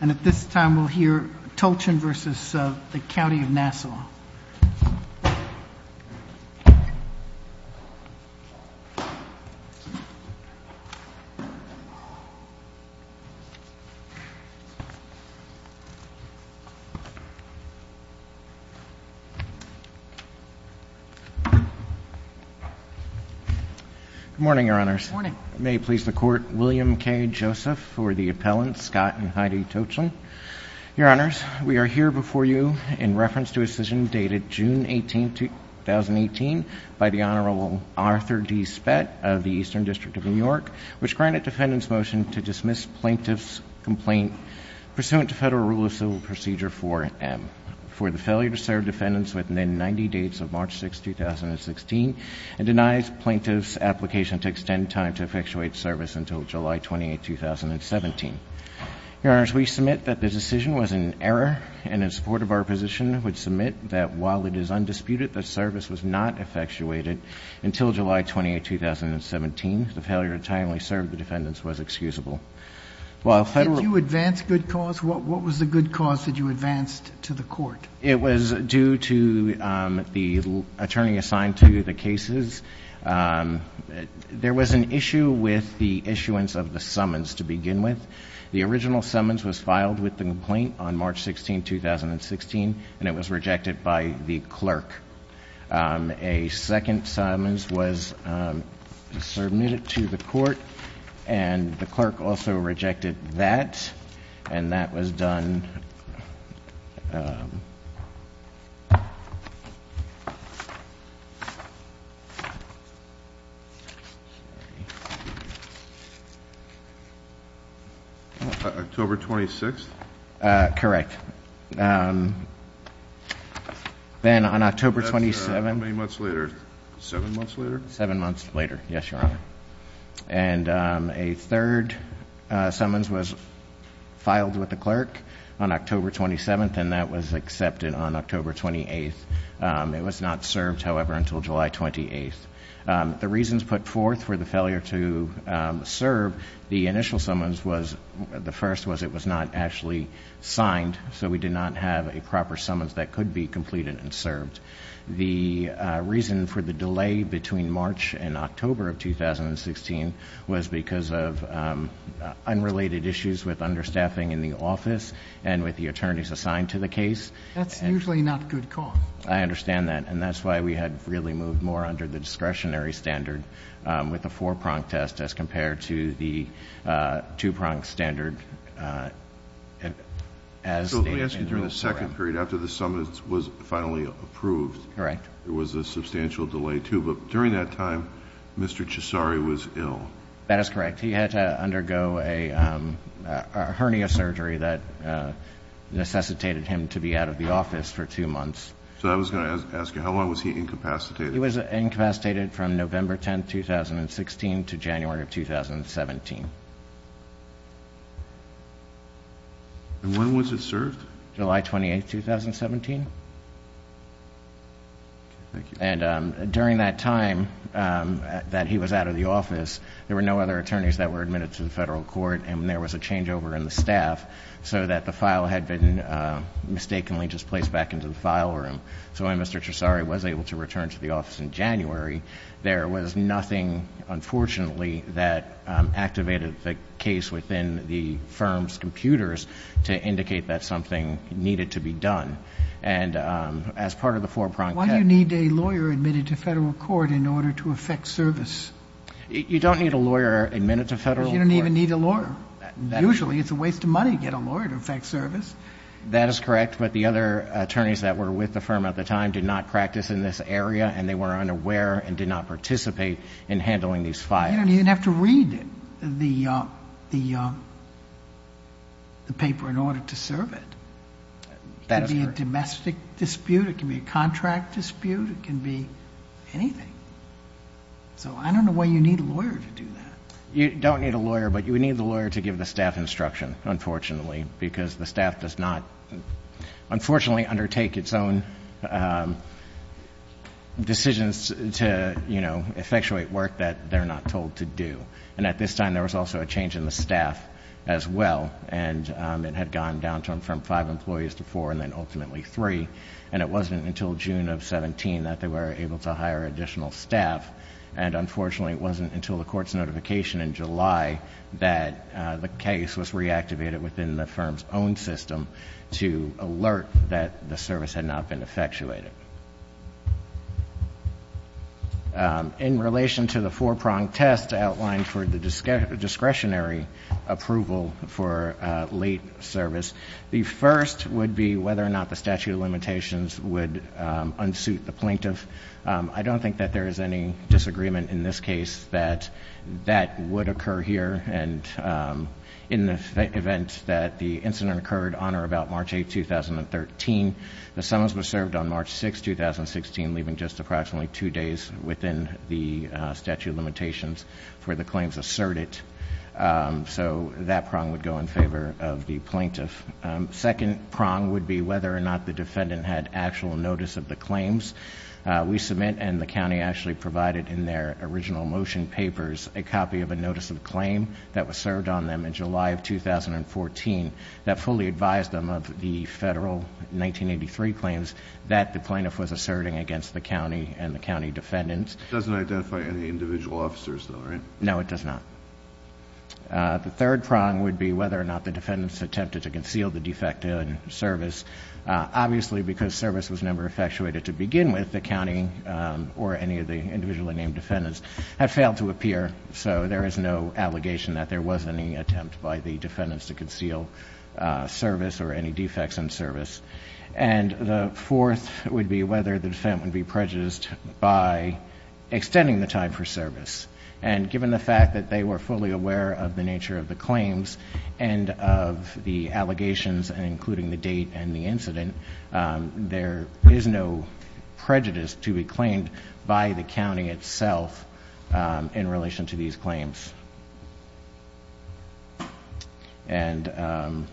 and at this time we'll hear Tochin v. County of Nassau. Morning Your Honors. Morning. May it please the Court, William K. Joseph for the appellant, Scott and Heidi Tochin. Your Honors, we are here before you in reference to a decision dated June 18, 2018 by the Honorable Arthur D. Spett of the Eastern District of New York, which granted defendants' motion to dismiss plaintiff's complaint pursuant to Federal Rule of Civil Procedure 4M for the failure to serve defendants within the 90 days of March 6, 2016 and denies plaintiff's application to extend time to effectuate service until July 28, 2017. Your Honors, we submit that the decision was an error and in support of our position would submit that while it is undisputed that service was not effectuated until July 28, 2017, the failure to timely serve the defendants was excusable. While Federal— Did you advance good cause? What was the good cause that you advanced to the Court? It was due to the attorney assigned to the cases. There was an issue with the issuance of the summons to begin with. The original summons was filed with the complaint on March 16, 2016, and it was rejected by the clerk. A second summons was submitted to the Court, and the clerk also rejected that, and that was done— October 26th? Correct. Then, on October 27— How many months later? Seven months later? Seven months later. Yes, Your Honor. And a third summons was filed with the clerk on October 27th, and that was accepted on October 28th. It was not served, however, until July 28th. The reasons put forth for the failure to serve the initial summons was—the first was it was not actually signed, so we did not have a proper summons that could be completed and served. The reason for the delay between March and October of 2016 was because of unrelated issues with understaffing in the office and with the attorneys assigned to the case. That's usually not good cause. I understand that, and that's why we had really moved more under the discretionary standard with the four-pronged test as compared to the two-pronged standard. So, let me ask you, during the second period, after the summons was finally approved— Correct. There was a substantial delay, too, but during that time, Mr. Cesari was ill. That is correct. He had to undergo a hernia surgery that necessitated him to be out of the office for two months. So, I was going to ask you, how long was he incapacitated? He was incapacitated from November 10, 2016 to January of 2017. And when was it served? July 28, 2017. Okay. Thank you. And during that time that he was out of the office, there were no other attorneys that were admitted to the federal court, and there was a changeover in the staff so that the file had been mistakenly just placed back into the file room. So, when Mr. Cesari was able to return to the office in January, there was nothing, unfortunately, that activated the case within the firm's computers to indicate that something needed to be done. And as part of the four-pronged— Why do you need a lawyer admitted to federal court in order to effect service? You don't need a lawyer admitted to federal court— Because you don't even need a lawyer. Usually, it's a waste of money to get a lawyer to effect service. That is correct, but the other attorneys that were with the firm at the time did not You don't even have to read the paper in order to serve it. That is correct. It can be a domestic dispute. It can be a contract dispute. It can be anything. So, I don't know why you need a lawyer to do that. You don't need a lawyer, but you would need the lawyer to give the staff instruction, unfortunately, because the staff does not, unfortunately, undertake its own decisions to effectuate work that they're not told to do. And at this time, there was also a change in the staff as well, and it had gone down from five employees to four and then ultimately three. And it wasn't until June of 2017 that they were able to hire additional staff, and unfortunately, it wasn't until the court's notification in July that the case was reactivated within the firm's own system to alert that the service had not been effectuated. In relation to the four-pronged test outlined for the discretionary approval for late service, the first would be whether or not the statute of limitations would unsuit the plaintiff. I don't think that there is any disagreement in this case that that would occur here. And in the event that the incident occurred on or about March 8, 2013, the summons were served on March 6, 2016, leaving just approximately two days within the statute of limitations for the claims asserted. So that prong would go in favor of the plaintiff. Second prong would be whether or not the defendant had actual notice of the claims. We submit, and the county actually provided in their original motion papers, a copy of a notice of claim that was served on them in July of 2014 that fully advised them of the federal 1983 claims that the plaintiff was asserting against the county and the county defendants. It doesn't identify any individual officers, though, right? No, it does not. The third prong would be whether or not the defendants attempted to conceal the defect in service. Obviously, because service was never effectuated to begin with, the county or any of the individually named defendants have failed to appear, so there is no allegation that there was any attempt by the defendants to conceal service or any defects in service. And the fourth would be whether the defendant would be prejudiced by extending the time for service. And given the fact that they were fully aware of the nature of the claims and of the allegations, including the date and the incident, there is no prejudice to be claimed by the county itself in relation to these claims. And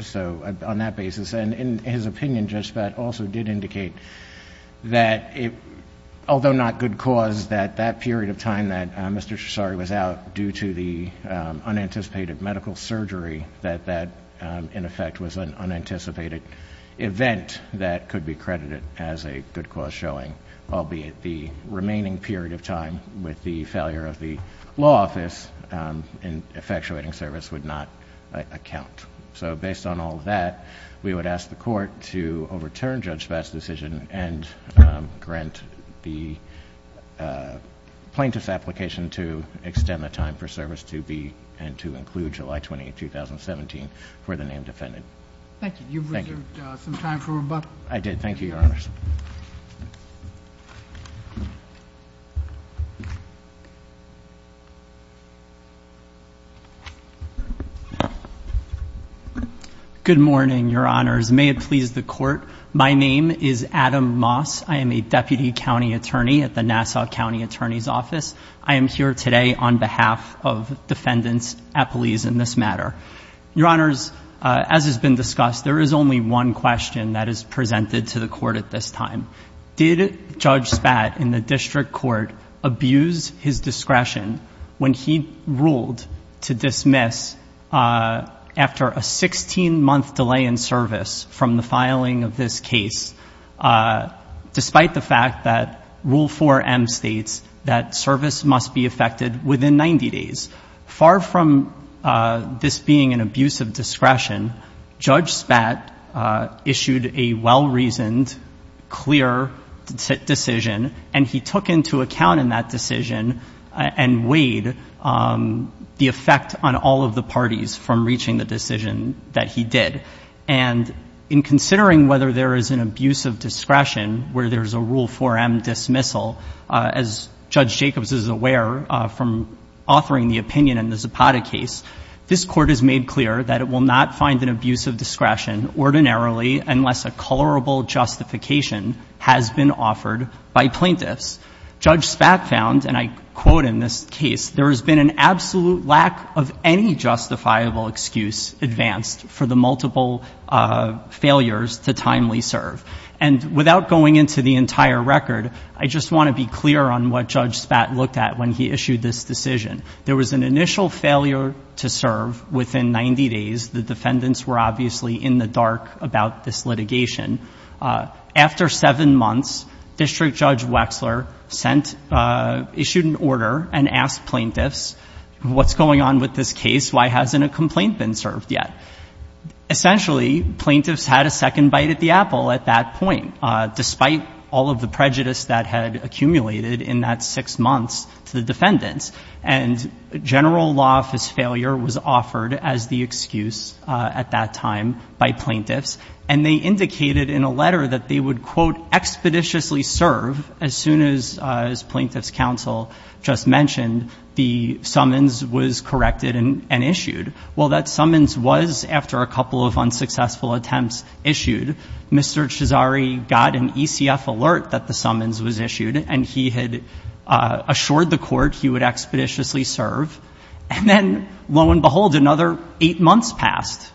so, on that basis, and in his opinion, Judge Spad also did indicate that although not good cause, that that period of time that Mr. Cesari was out due to the unanticipated medical surgery, that that, in effect, was an unanticipated event that could be credited as a good cause showing, albeit the remaining period of time with the failure of the law office in effectuating service would not account. So, based on all of that, we would ask the Court to overturn Judge Spad's decision and grant the plaintiff's application to extend the time for service to be and to include July 20, 2017 for the named defendant. Thank you. You've reserved some time for rebuttal. I did. Thank you, Your Honors. Good morning, Your Honors. May it please the Court. My name is Adam Moss. I am a Deputy County Attorney at the Nassau County Attorney's Office. I am here today on behalf of defendants at police in this matter. Your Honors, as has been discussed, there is only one question that is presented to the Court at this time. Did Judge Spad, in the District Court, abuse his discretion when he ruled to dismiss after a 16-month delay in service from the filing of this case, despite the fact that Rule 4M states that service must be affected within 90 days? Far from this being an abuse of discretion, Judge Spad issued a well-reasoned, clear decision, and he took into account in that decision and weighed the effect on all of the parties from reaching the decision that he did. And in considering whether there is an abuse of discretion where there is a Rule 4M dismissal, as Judge Jacobs is aware from authoring the opinion in the Zapata case, this Court has made clear that it will not find an abuse of discretion ordinarily unless a colorable justification has been offered by plaintiffs. Judge Spad found, and I quote in this case, there has been an absolute lack of any justifiable excuse advanced for the multiple failures to timely serve. And without going into the entire record, I just want to be clear on what Judge Spad looked at when he issued this decision. There was an initial failure to serve within 90 days. The defendants were obviously in the dark about this litigation. After seven months, District Judge Wexler sent, issued an order and asked plaintiffs what's going on with this case? Why hasn't a complaint been served yet? Essentially, plaintiffs had a second bite at the apple at that point, despite all of the prejudice that had accumulated in that six months to the defendants. And general law office failure was offered as the excuse at that time by plaintiffs. And they indicated in a letter that they would, quote, expeditiously serve as soon as plaintiff's counsel just mentioned the summons was corrected and issued. Well, that summons was, after a couple of unsuccessful attempts issued, Mr. Cesari got an ECF alert that the summons was issued, and he had assured the court he would expeditiously serve. And then, lo and behold, another eight months passed.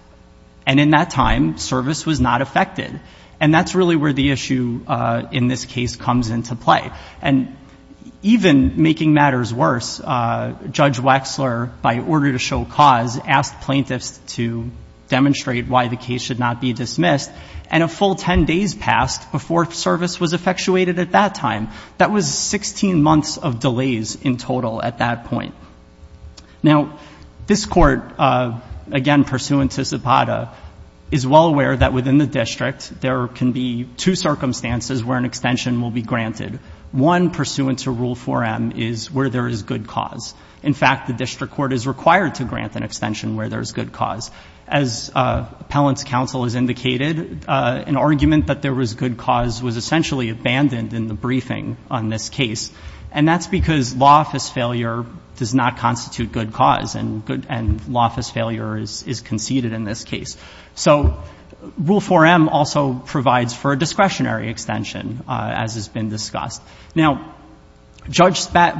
And in that time, service was not affected. And that's really where the issue in this case comes into play. And even making matters worse, Judge Ocas asked plaintiffs to demonstrate why the case should not be dismissed. And a full 10 days passed before service was effectuated at that time. That was 16 months of delays in total at that point. Now, this court, again, pursuant to CEPADA, is well aware that within the district there can be two circumstances where an extension will be granted. One, pursuant to Rule 4M, is where there is good cause. In fact, the district court is required to grant an extension where there is good cause. As appellant's counsel has indicated, an argument that there was good cause was essentially abandoned in the briefing on this case. And that's because law office failure does not constitute good cause, and law office failure is conceded in this case. So, Rule 4M also provides for a discretionary extension, as has been discussed. Now, Judge Spat,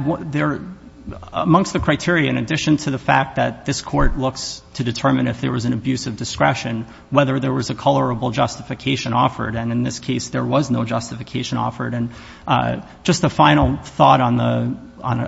amongst the criteria, in addition to the fact that this court looks to determine if there was an abuse of discretion, whether there was a colorable justification offered. And in this case, there was no justification offered. Just a final thought on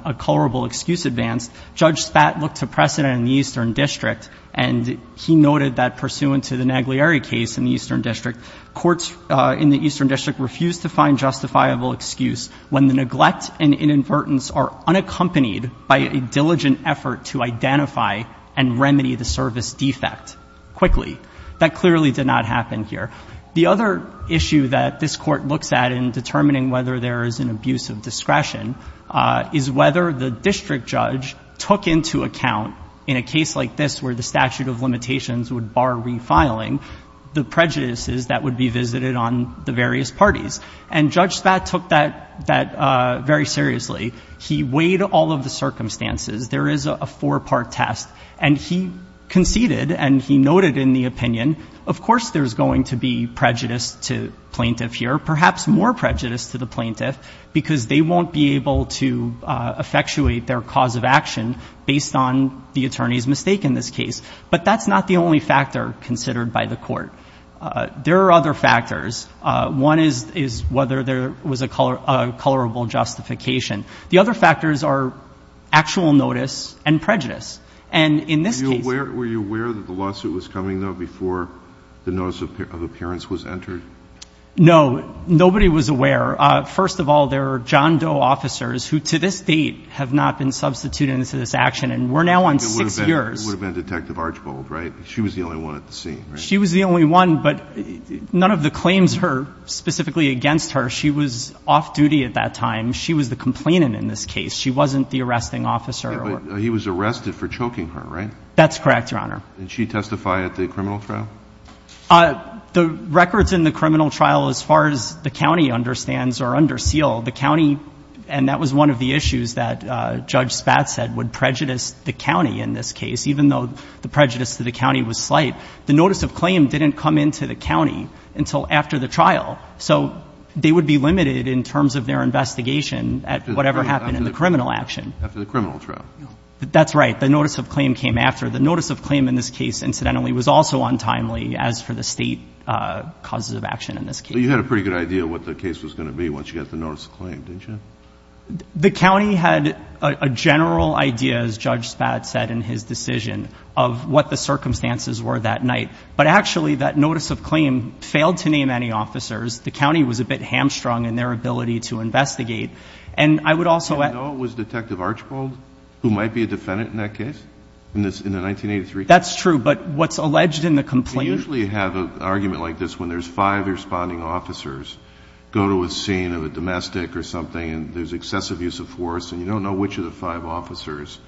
a colorable excuse advanced, Judge Spat looked to precedent in the Eastern District, and he noted that pursuant to the Naglieri case in the Eastern District, courts in the Eastern District refused to find justifiable excuse when the neglect and inadvertence are unaccompanied by a diligent effort to identify and remedy the service defect quickly. That clearly did not happen here. The other issue that this court looks at in determining whether there is an abuse of discretion is whether the district judge took into account, in a case like this where the statute of limitations would bar refiling, the prejudices that would be visited on the various parties. And Judge Spat took that very seriously. He weighed all of the circumstances. There is a four-part test. And he conceded, and he noted in the opinion, of course there's going to be prejudice to plaintiff here, perhaps more prejudice to the plaintiff, because they won't be able to effectuate their cause of action based on the attorney's mistake in this case. But that's not the only factor considered by the court. There are other factors. One is whether there was a colorable justification. The other factors are actual notice and prejudice. And in this case Were you aware that the lawsuit was coming, though, before the notice of appearance was entered? No. Nobody was aware. First of all, there are John Doe officers who, to this date, have not been substituted into this action. And we're now on six years. It would have been Detective Archbold, right? She was the only one at the scene, right? She was the only one, but none of the other officers were involved in this case. The only person who testified against her, she was off-duty at that time. She was the complainant in this case. She wasn't the arresting officer. He was arrested for choking her, right? That's correct, Your Honor. Did she testify at the criminal trial? The records in the criminal trial, as far as the county understands, are under seal. The county, and that was one of the issues that Judge Spatz said, would prejudice the county in this case, even though the prejudice to the county was slight. The notice of claim didn't come into the county until after the trial. So they would be limited in terms of their investigation at whatever happened in the criminal action. After the criminal trial. That's right. The notice of claim came after. The notice of claim in this case, incidentally, was also untimely, as for the state causes of action in this case. But you had a pretty good idea of what the case was going to be once you got the notice of claim, didn't you? The county had a general idea, as Judge Spatz said in his decision, of what the circumstances were that night. But actually, that notice of claim failed to name any officers. The county was a bit hamstrung in their ability to investigate. And I would also add... Do you know it was Detective Archibald who might be a defendant in that case? In the 1983 case? That's true. But what's alleged in the complaint... You usually have an argument like this when there's five responding officers go to a scene of a domestic or something and there's excessive use of force and you don't know which of the five officers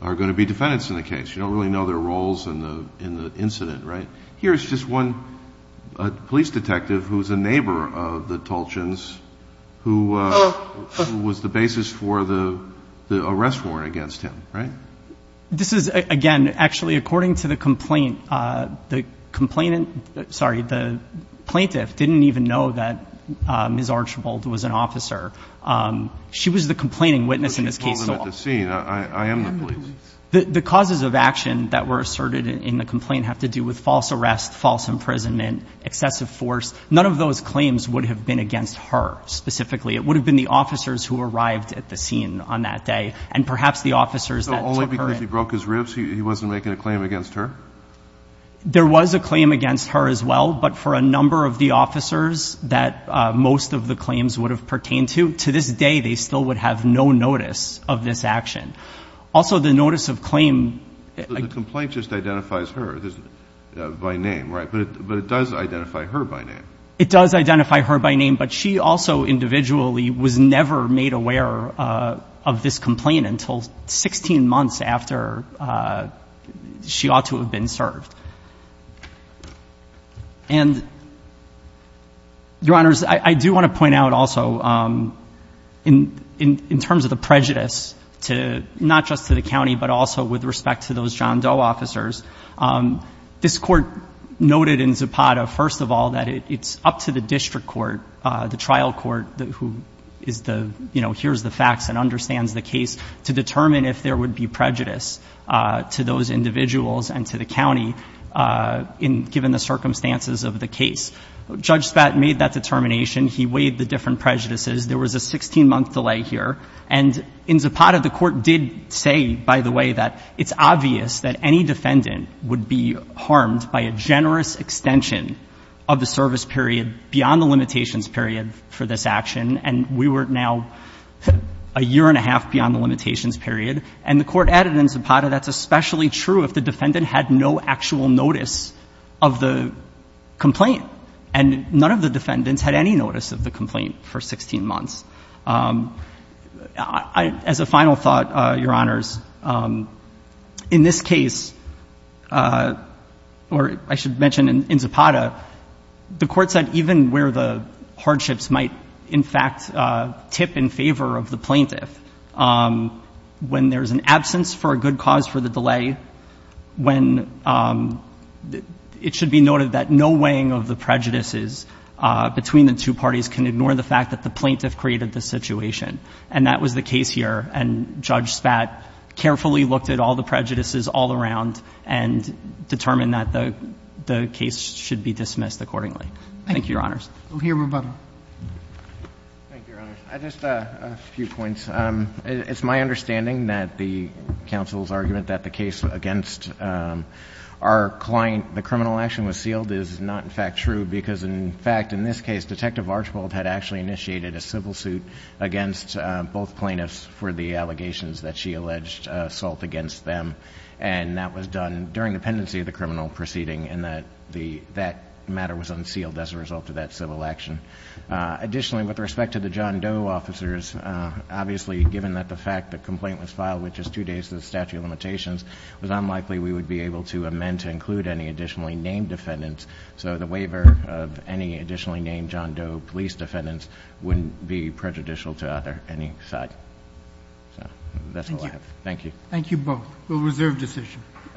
are going to be defendants in the case. You don't really know their roles in the incident, right? Here's just one police detective who's a neighbor of the Tolchins, who was the basis for the arrest warrant against him, right? This is, again, actually, according to the complaint, the plaintiff didn't even know that Ms. Archibald was an officer. She was the complaining witness in this case. I am the police. The causes of action that were asserted in the complaint have to do with false arrest, false imprisonment, excessive force. None of those claims would have been against her, specifically. It would have been the officers who arrived at the scene on that day, and perhaps the officers that took her in. So only because he broke his ribs, he wasn't making a claim against her? There was a claim against her as well, but for a number of the officers that most of the claims would have pertained to, to this day, they still would have no notice of this action. Also, the notice of claim The complaint just identifies her by name, right? But it does identify her by name. It does identify her by name, but she also, individually, was never made aware of this complaint until 16 months after she ought to have been served. Your Honors, I do want to point out also, in terms of the prejudice not just to the county, but also with respect to those John Doe officers, this Court noted in Zapata, first of all, that it's up to the district court, the trial court, who hears the facts and understands the case, to determine if there would be prejudice to those individuals and to the county given the circumstances of the case. Judge Spat made that determination. He weighed the different prejudices. There was a 16-month delay here. And in Zapata, the Court did say, by the way, that it's obvious that any defendant would be harmed by a generous extension of the service period beyond the limitations period for this action. And we were now a year and a half beyond the limitations period. And the Court added in Zapata that's especially true if the defendant had no actual notice of the complaint. And none of the defendants had any notice of the complaint for 16 months. As a final thought, Your Honors, in this case, or I should mention in Zapata, the Court said even where the hardships might, in fact, tip in favor of the plaintiff, when there's an opportunity, when it should be noted that no weighing of the prejudices between the two parties can ignore the fact that the plaintiff created the situation. And that was the case here. And Judge Spat carefully looked at all the prejudices all around and determined that the case should be dismissed accordingly. Thank you, Your Honors. Just a few points. It's my understanding that the assault against our client, the criminal action was sealed is not, in fact, true. Because, in fact, in this case, Detective Archibald had actually initiated a civil suit against both plaintiffs for the allegations that she alleged assault against them. And that was done during the pendency of the criminal proceeding. And that matter was unsealed as a result of that civil action. Additionally, with respect to the John Doe officers, obviously, given that the fact the complaint was filed with just two days to the statute of limitations, it was unlikely we would be able to amend to include any additionally named defendants. So the waiver of any additionally named John Doe police defendants wouldn't be prejudicial to either any side. So, that's all I have. Thank you. Thank you both. We'll reserve decision.